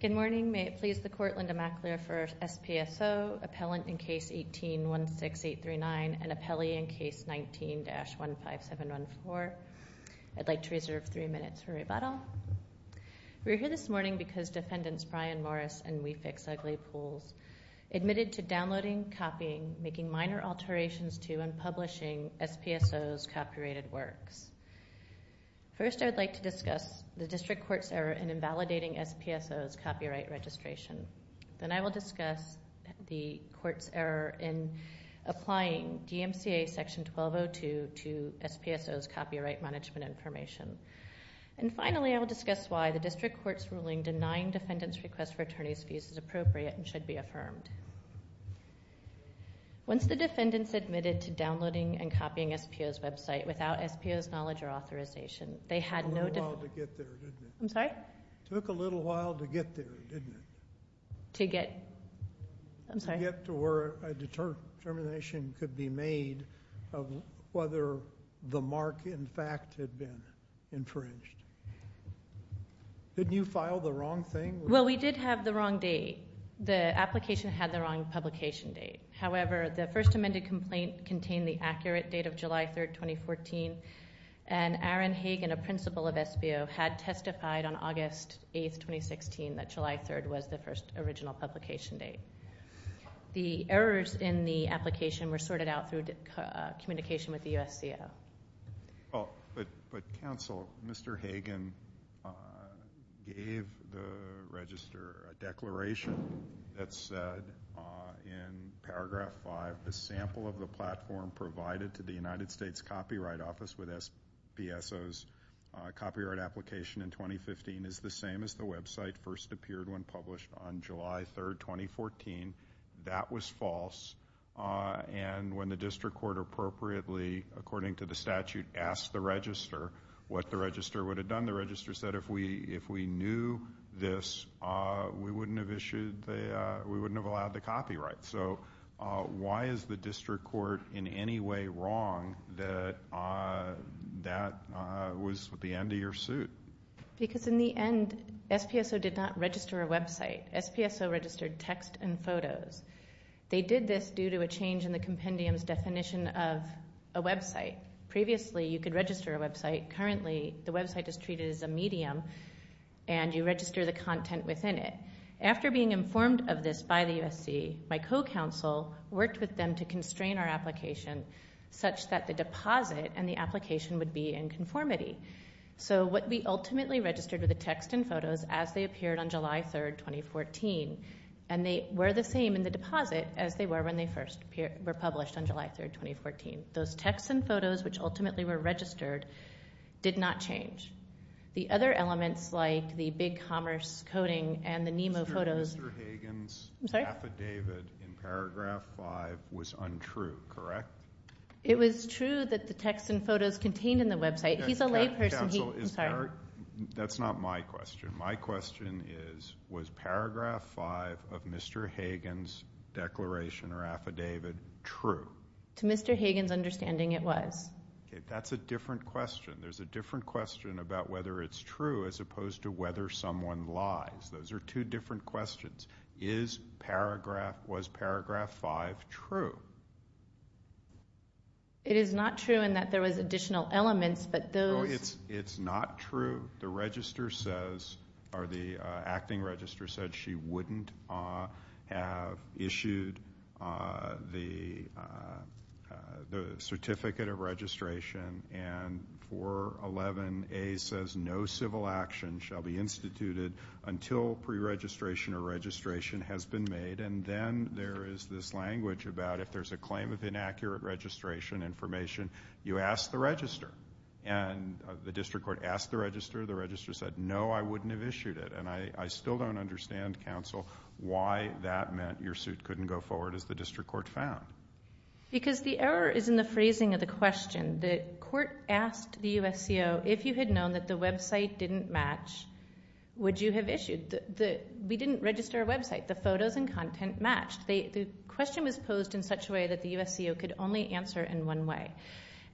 Good morning. May it please the Court, Linda McAleer for SPSO, Appellant in Case 18-16839, and Appellee in Case 19-15714. I'd like to reserve three minutes for rebuttal. We're here this morning because Defendants Brian Morris and We Fix Ugly Pools admitted to downloading, copying, making minor alterations to, and publishing SPSO's copyrighted works. First, I'd like to discuss the District Court's error in invalidating SPSO's copyright registration. Then I will discuss the Court's error in applying DMCA Section 1202 to SPSO's copyright management information. And finally, I will discuss why the District Court's ruling denying Defendants' request for attorney's fees is appropriate and should be affirmed. Once the Defendants admitted to downloading and copying SPSO's website without SPSO's knowledge or authorization, they had no— It took a little while to get there, didn't it? I'm sorry? It took a little while to get there, didn't it? To get—I'm sorry? To get to where a determination could be made of whether the mark, in fact, had been infringed. Didn't you file the wrong thing? Well, we did have the wrong date. The application had the wrong publication date. However, the first amended complaint contained the accurate date of July 3rd, 2014, and Aaron Hagen, a principal of SBO, had testified on August 8th, 2016, that July 3rd was the first original publication date. The errors in the application were sorted out through communication with the USCO. But, counsel, Mr. Hagen gave the register a declaration that said in paragraph 5, the sample of the platform provided to the United States Copyright Office with SPSO's copyright application in 2015 is the same as the website first appeared when published on July 3rd, 2014. That was false. And when the district court appropriately, according to the statute, asked the register what the register would have done, the register said if we knew this, we wouldn't have allowed the copyright. So why is the district court in any way wrong that that was the end of your suit? Because in the end, SPSO did not register a website. SPSO registered text and photos. They did this due to a change in the compendium's definition of a website. Previously, you could register a website. Currently, the website is treated as a medium, and you register the content within it. After being informed of this by the USC, my co-counsel worked with them to constrain our application such that the deposit and the application would be in conformity. So what we ultimately registered were the text and photos as they appeared on July 3rd, 2014, and they were the same in the deposit as they were when they first were published on July 3rd, 2014. Those text and photos, which ultimately were registered, did not change. The other elements like the big commerce coding and the NEMO photos. Mr. Hagan's affidavit in paragraph 5 was untrue, correct? It was true that the text and photos contained in the website. He's a layperson. That's not my question. My question is, was paragraph 5 of Mr. Hagan's declaration or affidavit true? To Mr. Hagan's understanding, it was. That's a different question. There's a different question about whether it's true as opposed to whether someone lies. Those are two different questions. Is paragraph – was paragraph 5 true? It is not true in that there was additional elements, but those – No, it's not true. The register says – or the acting register said she wouldn't have issued the certificate of registration, and 411A says no civil action shall be instituted until preregistration or registration has been made. And then there is this language about if there's a claim of inaccurate registration information, you ask the register. And the district court asked the register. The register said, no, I wouldn't have issued it. And I still don't understand, counsel, why that meant your suit couldn't go forward as the district court found. Because the error is in the phrasing of the question. The court asked the USCO, if you had known that the website didn't match, would you have issued? We didn't register a website. The photos and content matched. The question was posed in such a way that the USCO could only answer in one way.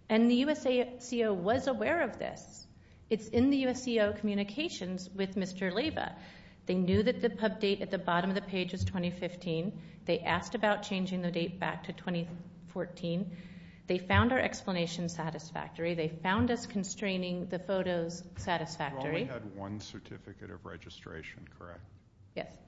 And the USCO was aware of this. It's in the USCO communications with Mr. Leyva. They knew that the pub date at the bottom of the page was 2015. They asked about changing the date back to 2014. They found our explanation satisfactory. They found us constraining the photos satisfactory. You only had one certificate of registration, correct? Yes. And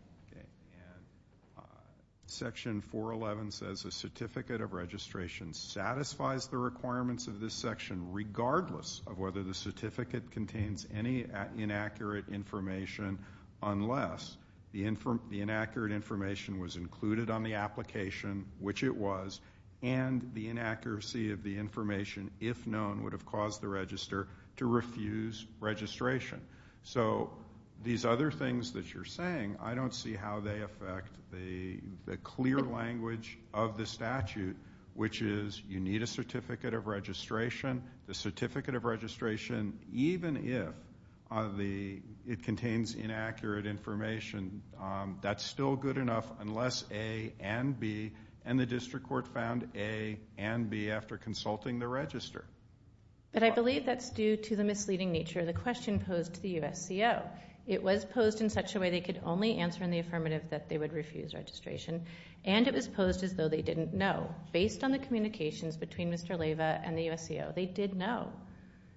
Section 411 says a certificate of registration satisfies the requirements of this section, regardless of whether the certificate contains any inaccurate information, unless the inaccurate information was included on the application, which it was, and the inaccuracy of the information, if known, would have caused the register to refuse registration. So these other things that you're saying, I don't see how they affect the clear language of the statute, which is you need a certificate of registration. The certificate of registration, even if it contains inaccurate information, that's still good enough unless A and B, and the district court found A and B after consulting the register. But I believe that's due to the misleading nature. The question posed to the USCO. It was posed in such a way they could only answer in the affirmative that they would refuse registration, and it was posed as though they didn't know. Based on the communications between Mr. Leyva and the USCO, they did know.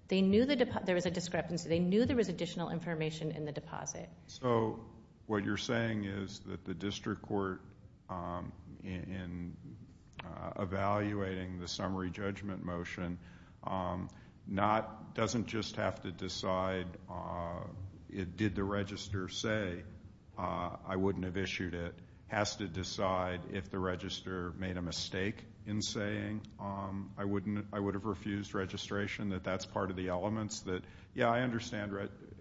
They knew there was a discrepancy. They knew there was additional information in the deposit. So what you're saying is that the district court, in evaluating the summary judgment motion, doesn't just have to decide did the register say I wouldn't have issued it. It has to decide if the register made a mistake in saying I would have refused registration, that that's part of the elements that, yeah, I understand,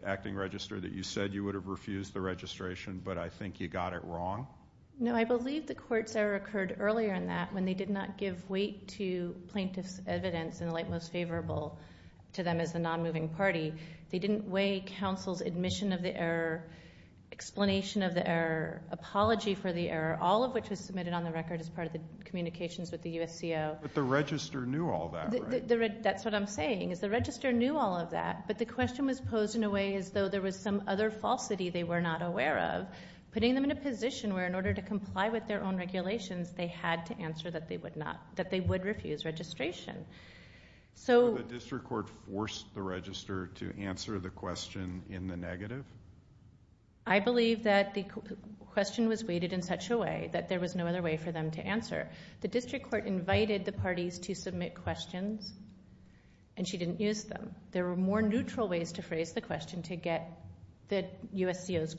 Acting Register, that you said you would have refused the registration, but I think you got it wrong? No, I believe the court's error occurred earlier than that when they did not give weight to plaintiff's evidence in the light most favorable to them as a nonmoving party. They didn't weigh counsel's admission of the error, explanation of the error, apology for the error, all of which was submitted on the record as part of the communications with the USCO. But the register knew all that, right? That's what I'm saying is the register knew all of that, but the question was posed in a way as though there was some other falsity they were not aware of, putting them in a position where in order to comply with their own regulations, they had to answer that they would refuse registration. So the district court forced the register to answer the question in the negative? I believe that the question was weighted in such a way that there was no other way for them to answer. The district court invited the parties to submit questions, and she didn't use them. There were more neutral ways to phrase the question to get the USCO's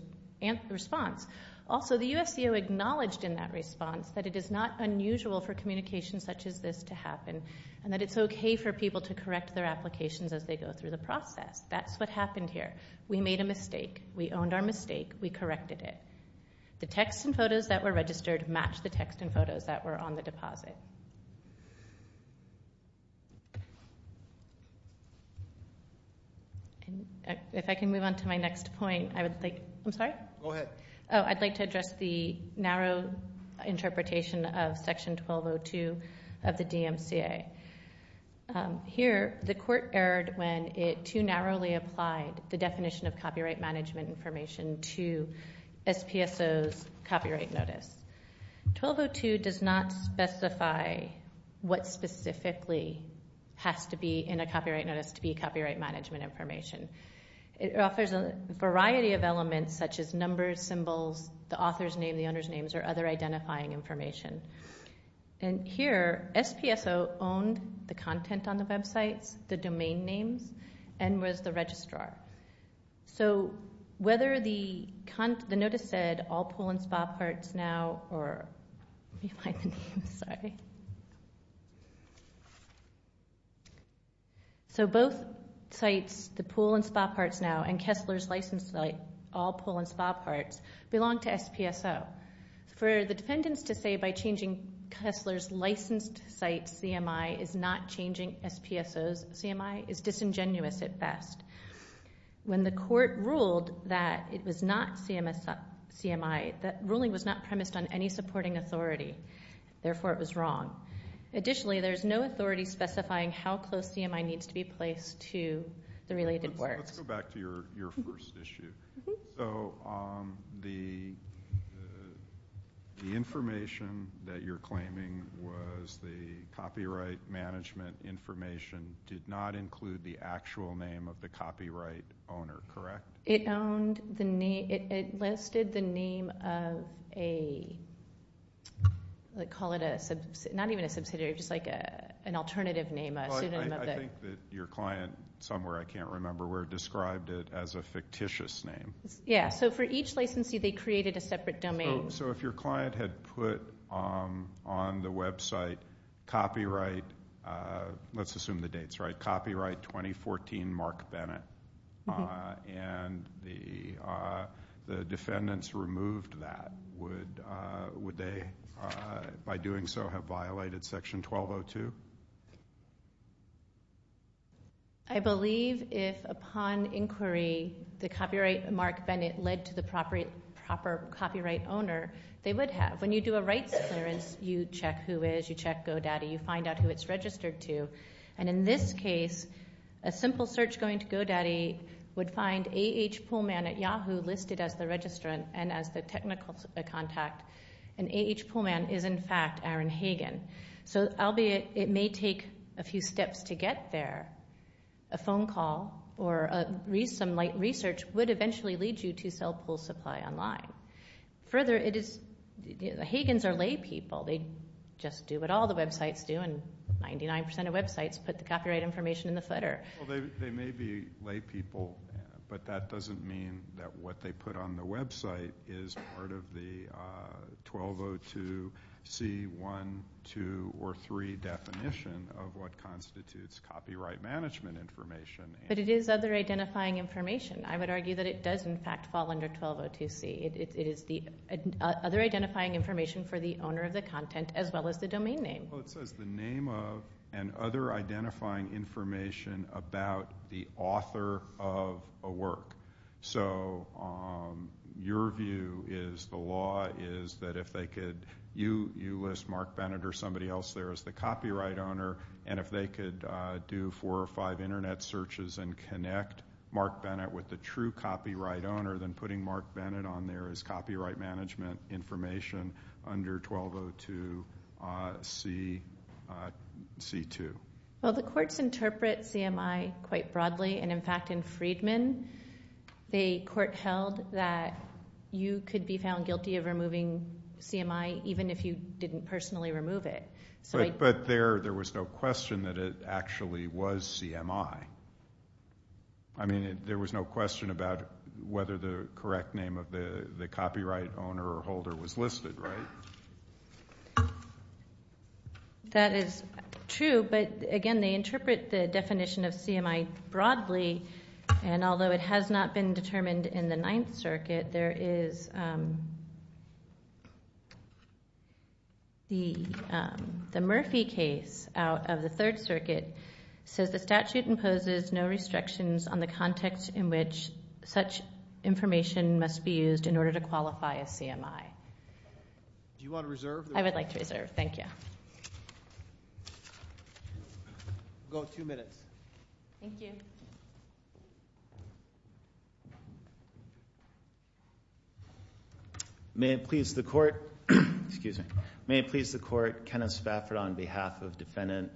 response. Also, the USCO acknowledged in that response that it is not unusual for communication such as this to happen and that it's okay for people to correct their applications as they go through the process. That's what happened here. We made a mistake. We owned our mistake. We corrected it. The text and photos that were registered matched the text and photos that were on the deposit. If I can move on to my next point, I would like to address the narrow interpretation of Section 1202 of the DMCA. Here, the court erred when it too narrowly applied the definition of copyright management information to SPSO's copyright notice. 1202 does not specify what specifically has to be in a copyright notice to be copyright management information. It offers a variety of elements such as numbers, symbols, the author's name, the owner's names, or other identifying information. Here, SPSO owned the content on the websites, the domain names, and was the registrar. Both sites, the Pool and Spa Parts Now and Kessler's license site, all Pool and Spa Parts, belong to SPSO. For the defendants to say by changing Kessler's licensed site, CMI is not changing SPSO's CMI is disingenuous at best. When the court ruled that it was not CMI, that ruling was not premised on any supporting authority. Therefore, it was wrong. Additionally, there is no authority specifying how close CMI needs to be placed to the related works. Let's go back to your first issue. So the information that you're claiming was the copyright management information did not include the actual name of the copyright owner, correct? It owned the name, it listed the name of a, call it a, not even a subsidiary, just like an alternative name. I think that your client somewhere, I can't remember where, described it as a fictitious name. Yeah, so for each licensee they created a separate domain. So if your client had put on the website copyright, let's assume the dates right, copyright 2014 Mark Bennett, and the defendants removed that, would they, by doing so, have violated section 1202? I believe if upon inquiry the copyright Mark Bennett led to the proper copyright owner, they would have. When you do a rights clearance, you check who is, you check GoDaddy, you find out who it's registered to. And in this case, a simple search going to GoDaddy would find A.H. Poolman at Yahoo listed as the registrant and as the technical contact. And A.H. Poolman is in fact Aaron Hagen. So albeit it may take a few steps to get there, a phone call or some light research would eventually lead you to sell pool supply online. Further, it is, the Hagens are lay people. They just do what all the websites do, and 99% of websites put the copyright information in the footer. Well, they may be lay people, but that doesn't mean that what they put on the website is part of the 1202C1, 2, or 3 definition of what constitutes copyright management information. But it is other identifying information. I would argue that it does in fact fall under 1202C. It is the other identifying information for the owner of the content as well as the domain name. Well, it says the name of and other identifying information about the author of a work. So your view is the law is that if they could, you list Mark Bennett or somebody else there as the copyright owner, and if they could do four or five internet searches and connect Mark Bennett with the true copyright owner, then putting Mark Bennett on there is copyright management information under 1202C2. Well, the courts interpret CMI quite broadly, and in fact in Freedman, the court held that you could be found guilty of removing CMI even if you didn't personally remove it. But there was no question that it actually was CMI. I mean there was no question about whether the correct name of the copyright owner or holder was listed, right? That is true, but again, they interpret the definition of CMI broadly, and although it has not been determined in the Ninth Circuit, there is the Murphy case out of the Third Circuit. It says the statute imposes no restrictions on the context in which such information must be used in order to qualify as CMI. Do you want to reserve? I would like to reserve. Thank you. We'll go two minutes. Thank you. May it please the court. Excuse me. May it please the court. Kenneth Spafford on behalf of defendant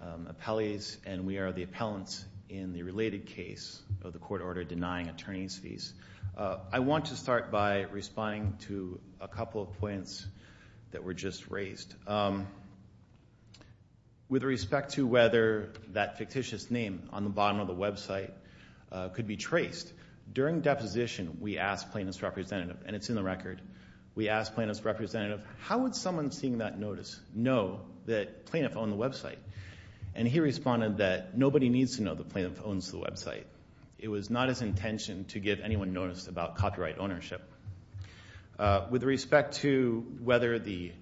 appellees, I want to start by responding to a couple of points that were just raised. With respect to whether that fictitious name on the bottom of the website could be traced, during deposition we asked plaintiff's representative, and it's in the record, we asked plaintiff's representative, how would someone seeing that notice know that plaintiff owned the website? And he responded that nobody needs to know that plaintiff owns the website. It was not his intention to give anyone notice about copyright ownership. With respect to whether the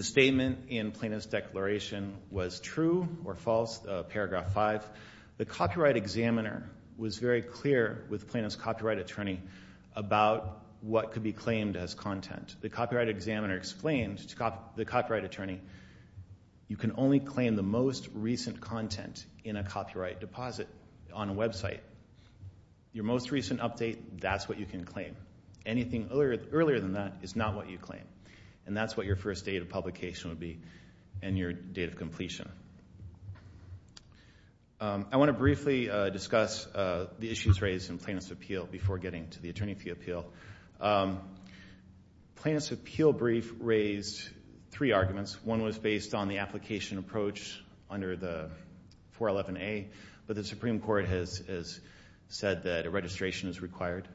statement in plaintiff's declaration was true or false, paragraph five, the copyright examiner was very clear with plaintiff's copyright attorney about what could be claimed as content. The copyright examiner explained to the copyright attorney, you can only claim the most recent content in a copyright deposit on a website. Your most recent update, that's what you can claim. Anything earlier than that is not what you claim, and that's what your first date of publication would be and your date of completion. I want to briefly discuss the issues raised in plaintiff's appeal before getting to the attorney fee appeal. Plaintiff's appeal brief raised three arguments. One was based on the application approach under the 411A, but the Supreme Court has said that a registration is required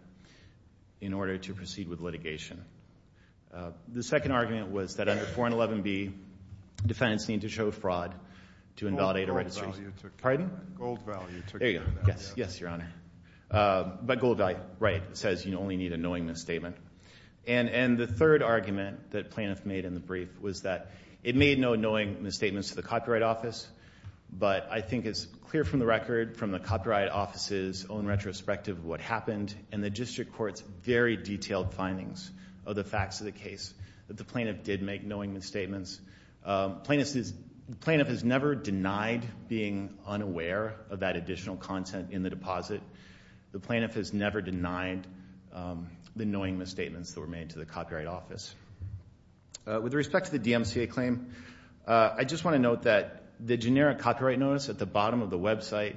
in order to proceed with litigation. The second argument was that under 411B, defendants need to show fraud to invalidate a registry. Gold value. Pardon? Gold value. There you go. Yes, yes, Your Honor. But gold value, right, says you only need a knowing misstatement. And the third argument that plaintiff made in the brief was that it made no knowing misstatements to the Copyright Office, but I think it's clear from the record from the Copyright Office's own retrospective of what happened and the district court's very detailed findings of the facts of the case that the plaintiff did make knowing misstatements. Plaintiff has never denied being unaware of that additional content in the deposit. The plaintiff has never denied the knowing misstatements that were made to the Copyright Office. With respect to the DMCA claim, I just want to note that the generic copyright notice at the bottom of the website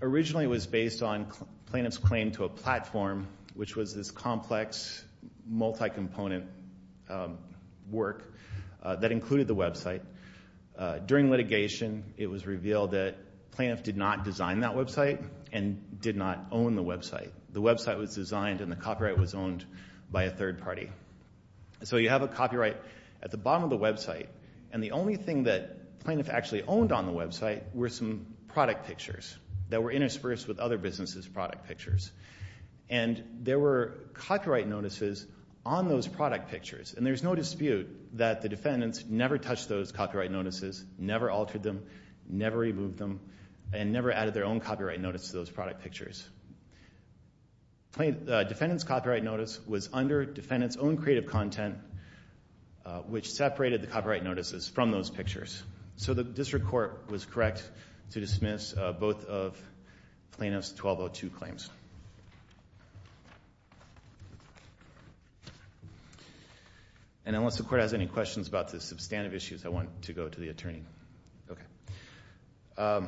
originally was based on plaintiff's claim to a platform, which was this complex, multi-component work that included the website. During litigation, it was revealed that plaintiff did not design that website and did not own the website. The website was designed and the copyright was owned by a third party. So you have a copyright at the bottom of the website, and the only thing that plaintiff actually owned on the website were some product pictures that were interspersed with other businesses' product pictures. And there were copyright notices on those product pictures, and there's no dispute that the defendants never touched those copyright notices, never altered them, never removed them, and never added their own copyright notice to those product pictures. Defendant's copyright notice was under defendant's own creative content, which separated the copyright notices from those pictures. So the district court was correct to dismiss both of plaintiff's 1202 claims. And unless the court has any questions about the substantive issues, I want to go to the attorney. Okay.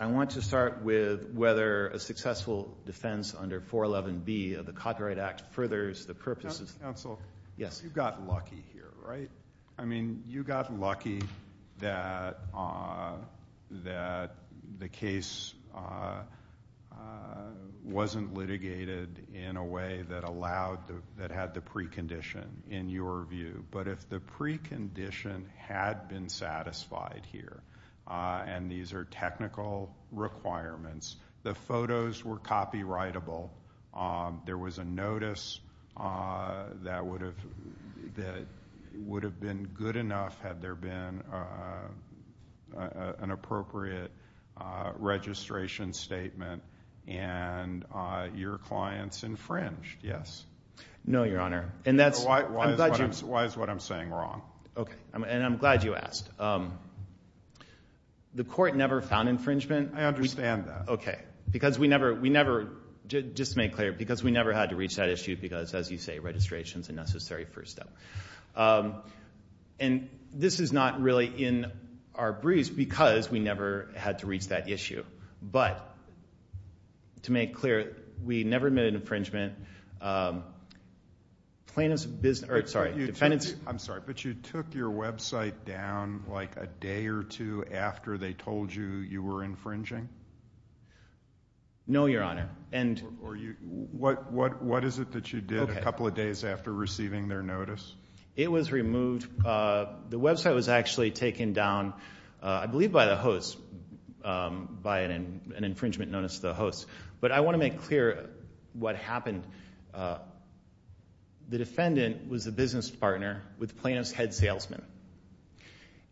I want to start with whether a successful defense under 411B of the Copyright Act furthers the purposes. Counsel, you got lucky here, right? I mean, you got lucky that the case wasn't litigated in a way that had the precondition, in your view. But if the precondition had been satisfied here, and these are technical requirements, the photos were copyrightable. There was a notice that would have been good enough had there been an appropriate registration statement, and your clients infringed, yes? No, Your Honor. Why is what I'm saying wrong? Okay. And I'm glad you asked. The court never found infringement. I understand that. Okay. Because we never, just to make clear, because we never had to reach that issue because, as you say, registration is a necessary first step. And this is not really in our briefs because we never had to reach that issue. But to make clear, we never made an infringement. Plaintiff's business or, sorry, defendant's. I'm sorry, but you took your website down like a day or two after they told you you were infringing? No, Your Honor. What is it that you did a couple of days after receiving their notice? It was removed. The website was actually taken down, I believe by the host, by an infringement notice to the host. But I want to make clear what happened. The defendant was a business partner with plaintiff's head salesman.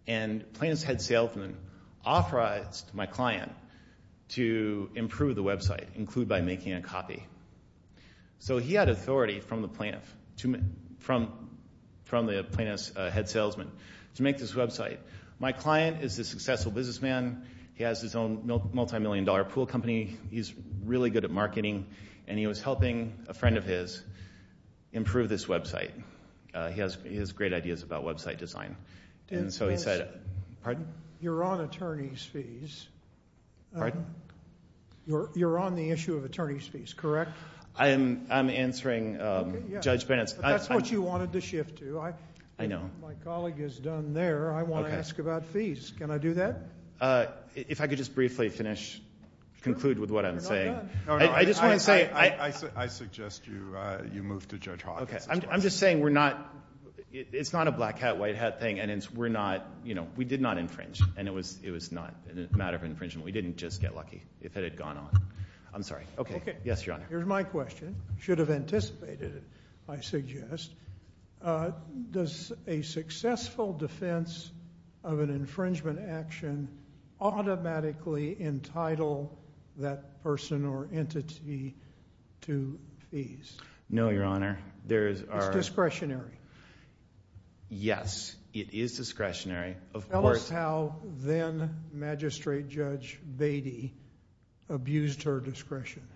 And plaintiff's head salesman authorized my client to improve the website, include by making a copy. So he had authority from the plaintiff, from the plaintiff's head salesman, to make this website. My client is a successful businessman. He has his own multimillion-dollar pool company. He's really good at marketing. And he was helping a friend of his improve this website. He has great ideas about website design. And so he said you're on attorney's fees. Pardon? You're on the issue of attorney's fees, correct? I'm answering Judge Bennett's. That's what you wanted to shift to. I know. My colleague is done there. I want to ask about fees. Can I do that? If I could just briefly finish, conclude with what I'm saying. I suggest you move to Judge Hawkins. I'm just saying it's not a black hat, white hat thing. And we did not infringe. And it was not a matter of infringement. We didn't just get lucky if it had gone on. I'm sorry. Okay. Yes, Your Honor. Here's my question. Should have anticipated it, I suggest. Does a successful defense of an infringement action automatically entitle that person or entity to fees? No, Your Honor. It's discretionary. Yes, it is discretionary. Tell us how then Magistrate Judge Beatty abused her discretion.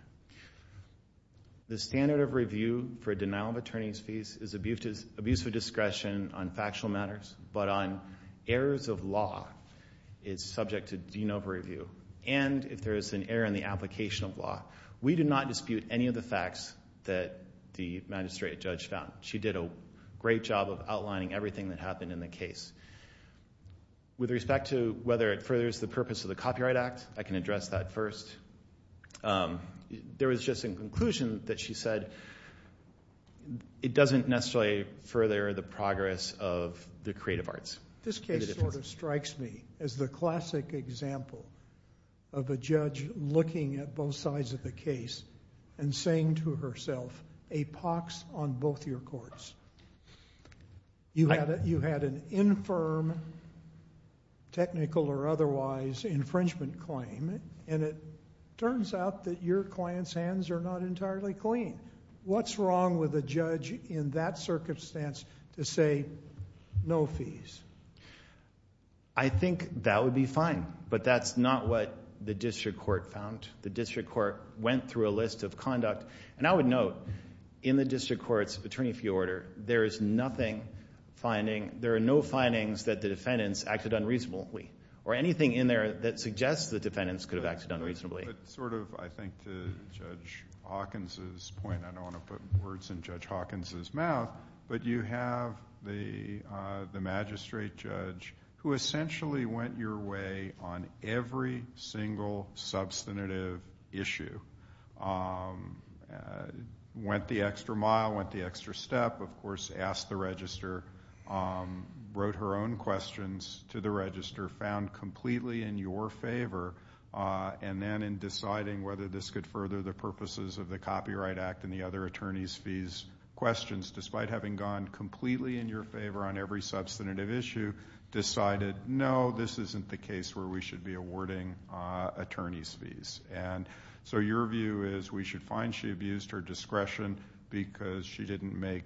The standard of review for denial of attorney's fees is abuse of discretion on factual matters, but on errors of law is subject to de novo review. And if there is an error in the application of law. We did not dispute any of the facts that the Magistrate Judge found. She did a great job of outlining everything that happened in the case. With respect to whether it furthers the purpose of the Copyright Act, I can address that first. There was just a conclusion that she said it doesn't necessarily further the progress of the creative arts. This case sort of strikes me as the classic example of a judge looking at both sides of the case and saying to herself, a pox on both your courts. You had an infirm technical or otherwise infringement claim, and it turns out that your client's hands are not entirely clean. What's wrong with a judge in that circumstance to say no fees? I think that would be fine, but that's not what the district court found. The district court went through a list of conduct, and I would note in the district court's attorney fee order, there is nothing finding, there are no findings that the defendants acted unreasonably or anything in there that suggests the defendants could have acted unreasonably. But sort of, I think, to Judge Hawkins's point, I don't want to put words in Judge Hawkins's mouth, but you have the Magistrate Judge who essentially went your way on every single substantive issue. Went the extra mile, went the extra step, of course, asked the register, wrote her own questions to the register, found completely in your favor, and then in deciding whether this could further the purposes of the Copyright Act and the other attorney's fees questions, despite having gone completely in your favor on every substantive issue, decided no, this isn't the case where we should be awarding attorney's fees. And so your view is we should find she abused her discretion because she didn't make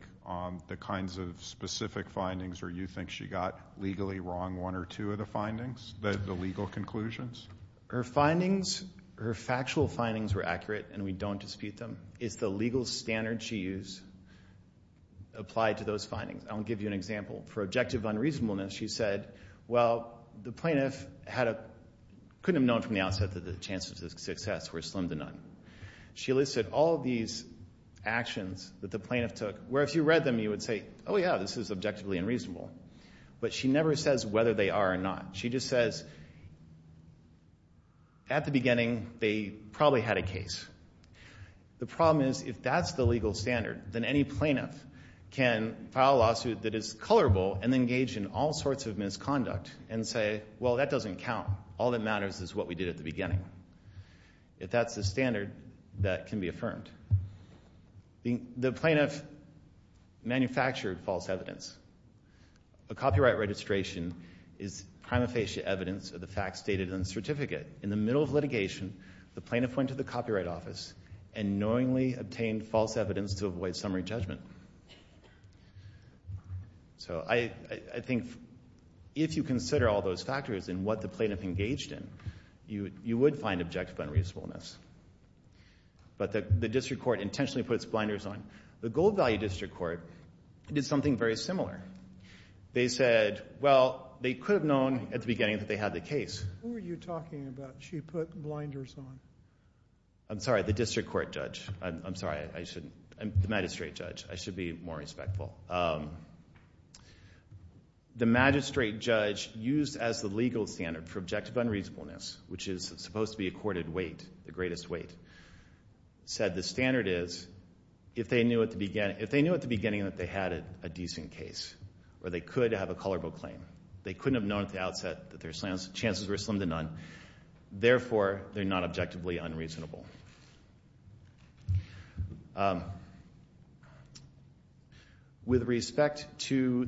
the kinds of specific findings or you think she got legally wrong one or two of the findings, the legal conclusions? Her findings, her factual findings were accurate, and we don't dispute them. It's the legal standard she used applied to those findings. I'll give you an example. For objective unreasonableness, she said, well, the plaintiff couldn't have known from the outset that the chances of success were slim to none. She listed all of these actions that the plaintiff took, where if you read them you would say, oh, yeah, this is objectively unreasonable. But she never says whether they are or not. She just says at the beginning they probably had a case. The problem is if that's the legal standard, then any plaintiff can file a lawsuit that is colorable and engage in all sorts of misconduct and say, well, that doesn't count. All that matters is what we did at the beginning. If that's the standard, that can be affirmed. The plaintiff manufactured false evidence. A copyright registration is prima facie evidence of the facts stated in the certificate. In the middle of litigation, the plaintiff went to the copyright office and knowingly obtained false evidence to avoid summary judgment. So I think if you consider all those factors and what the plaintiff engaged in, you would find objective unreasonableness. But the district court intentionally puts blinders on. The gold value district court did something very similar. They said, well, they could have known at the beginning that they had the case. Who are you talking about? She put blinders on. I'm sorry, the district court judge. I'm sorry, I shouldn't. The magistrate judge. I should be more respectful. The magistrate judge used as the legal standard for objective unreasonableness, which is supposed to be accorded weight, the greatest weight, said the standard is if they knew at the beginning that they had a decent case or they could have a colorable claim, they couldn't have known at the outset that their chances were slim to none, therefore they're not objectively unreasonable. With respect to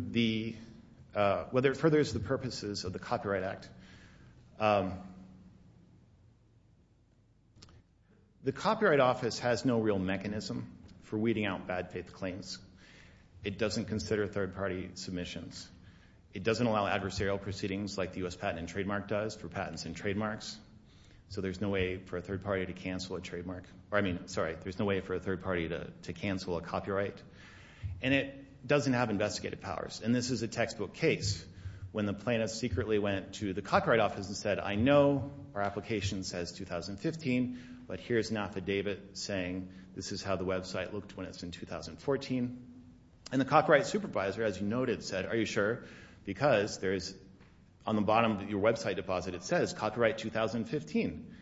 whether it furthers the purposes of the Copyright Act, the Copyright Office has no real mechanism for weeding out bad-faith claims. It doesn't consider third-party submissions. It doesn't allow adversarial proceedings like the U.S. Patent and Trademark does for patents and trademarks. So there's no way for a third party to cancel a trademark. I mean, sorry, there's no way for a third party to cancel a copyright. And it doesn't have investigative powers. And this is a textbook case when the plaintiff secretly went to the Copyright Office and said, I know our application says 2015, but here's an affidavit saying this is how the website looked when it's in 2014. And the copyright supervisor, as you noted, said, Are you sure? Because there's on the bottom of your website deposit it says copyright 2015.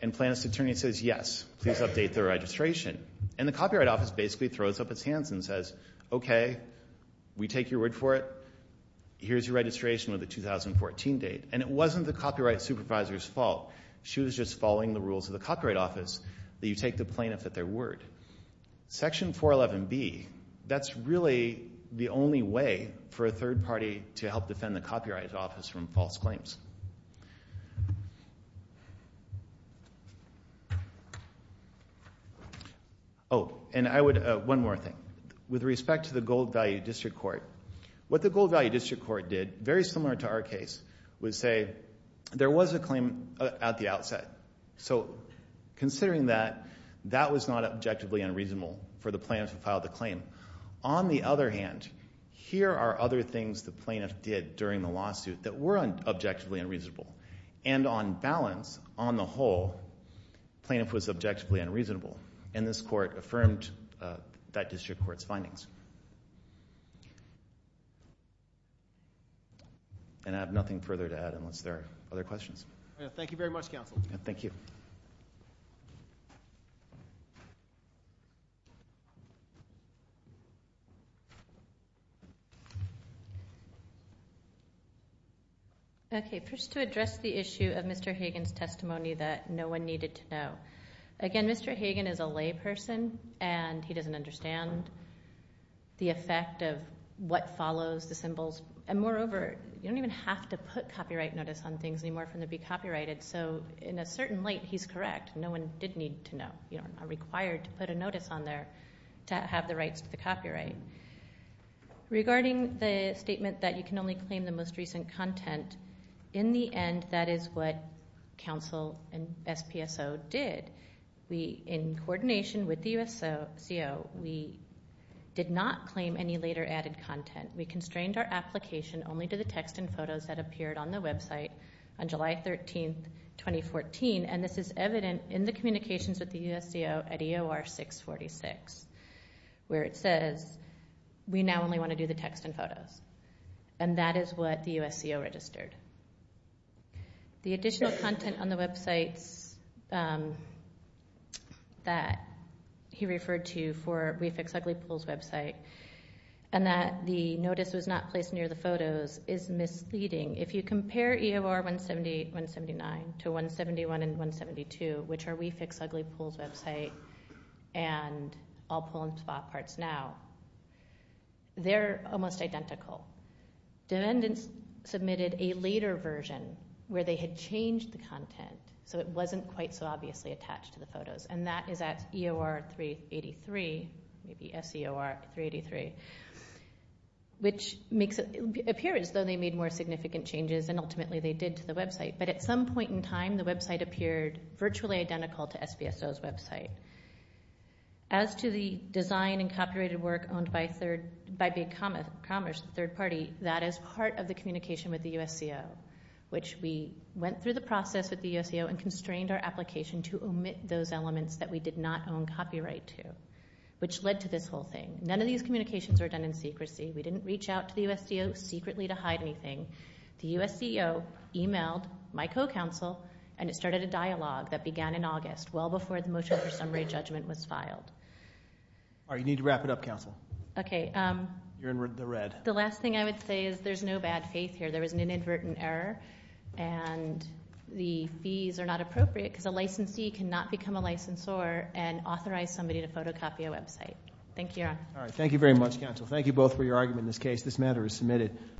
And plaintiff's attorney says, yes, please update the registration. And the Copyright Office basically throws up its hands and says, okay, we take your word for it, here's your registration with the 2014 date. And it wasn't the copyright supervisor's fault. She was just following the rules of the Copyright Office that you take the plaintiff at their word. Section 411B, that's really the only way for a third party to help defend the Copyright Office from false claims. Oh, and one more thing. With respect to the Gold Value District Court, what the Gold Value District Court did, very similar to our case, was say there was a claim at the outset. So considering that, that was not objectively unreasonable for the plaintiff who filed the claim. On the other hand, here are other things the plaintiff did during the lawsuit that were objectively unreasonable. And on balance, on the whole, plaintiff was objectively unreasonable. And this court affirmed that district court's findings. And I have nothing further to add unless there are other questions. Thank you very much, counsel. Thank you. Okay, first to address the issue of Mr. Hagan's testimony that no one needed to know. Again, Mr. Hagan is a lay person, and he doesn't understand the effect of what follows the symbols. And moreover, you don't even have to put copyright notice on things anymore for them to be copyrighted. So in a certain light, he's correct. No one did need to know. You're not required to put a notice on there to have the rights to the copyright. Regarding the statement that you can only claim the most recent content, in the end that is what counsel and SPSO did. In coordination with the USCO, we did not claim any later added content. We constrained our application only to the text and photos that appeared on the website on July 13, 2014. And this is evident in the communications with the USCO at EOR 646, where it says we now only want to do the text and photos. And that is what the USCO registered. The additional content on the websites that he referred to for We Fix Ugly Pools website and that the notice was not placed near the photos is misleading. If you compare EOR 179 to 171 and 172, which are We Fix Ugly Pools website and all pool and spot parts now, they're almost identical. Dependents submitted a later version where they had changed the content so it wasn't quite so obviously attached to the photos, and that is at EOR 383, maybe SCOR 383, which appears as though they made more significant changes than ultimately they did to the website. But at some point in time, the website appeared virtually identical to SPSO's website. As to the design and copyrighted work owned by Big Commerce, the third party, that is part of the communication with the USCO, which we went through the process with the USCO and constrained our application to omit those elements that we did not own copyright to, which led to this whole thing. None of these communications were done in secrecy. We didn't reach out to the USCO secretly to hide anything. The USCO emailed my co-counsel, and it started a dialogue that began in August, well before the motion for summary judgment was filed. All right, you need to wrap it up, counsel. Okay. You're in the red. The last thing I would say is there's no bad faith here. There was an inadvertent error, and the fees are not appropriate because a licensee cannot become a licensor and authorize somebody to photocopy a website. Thank you. All right. Thank you very much, counsel. Thank you both for your argument in this case. This matter is submitted.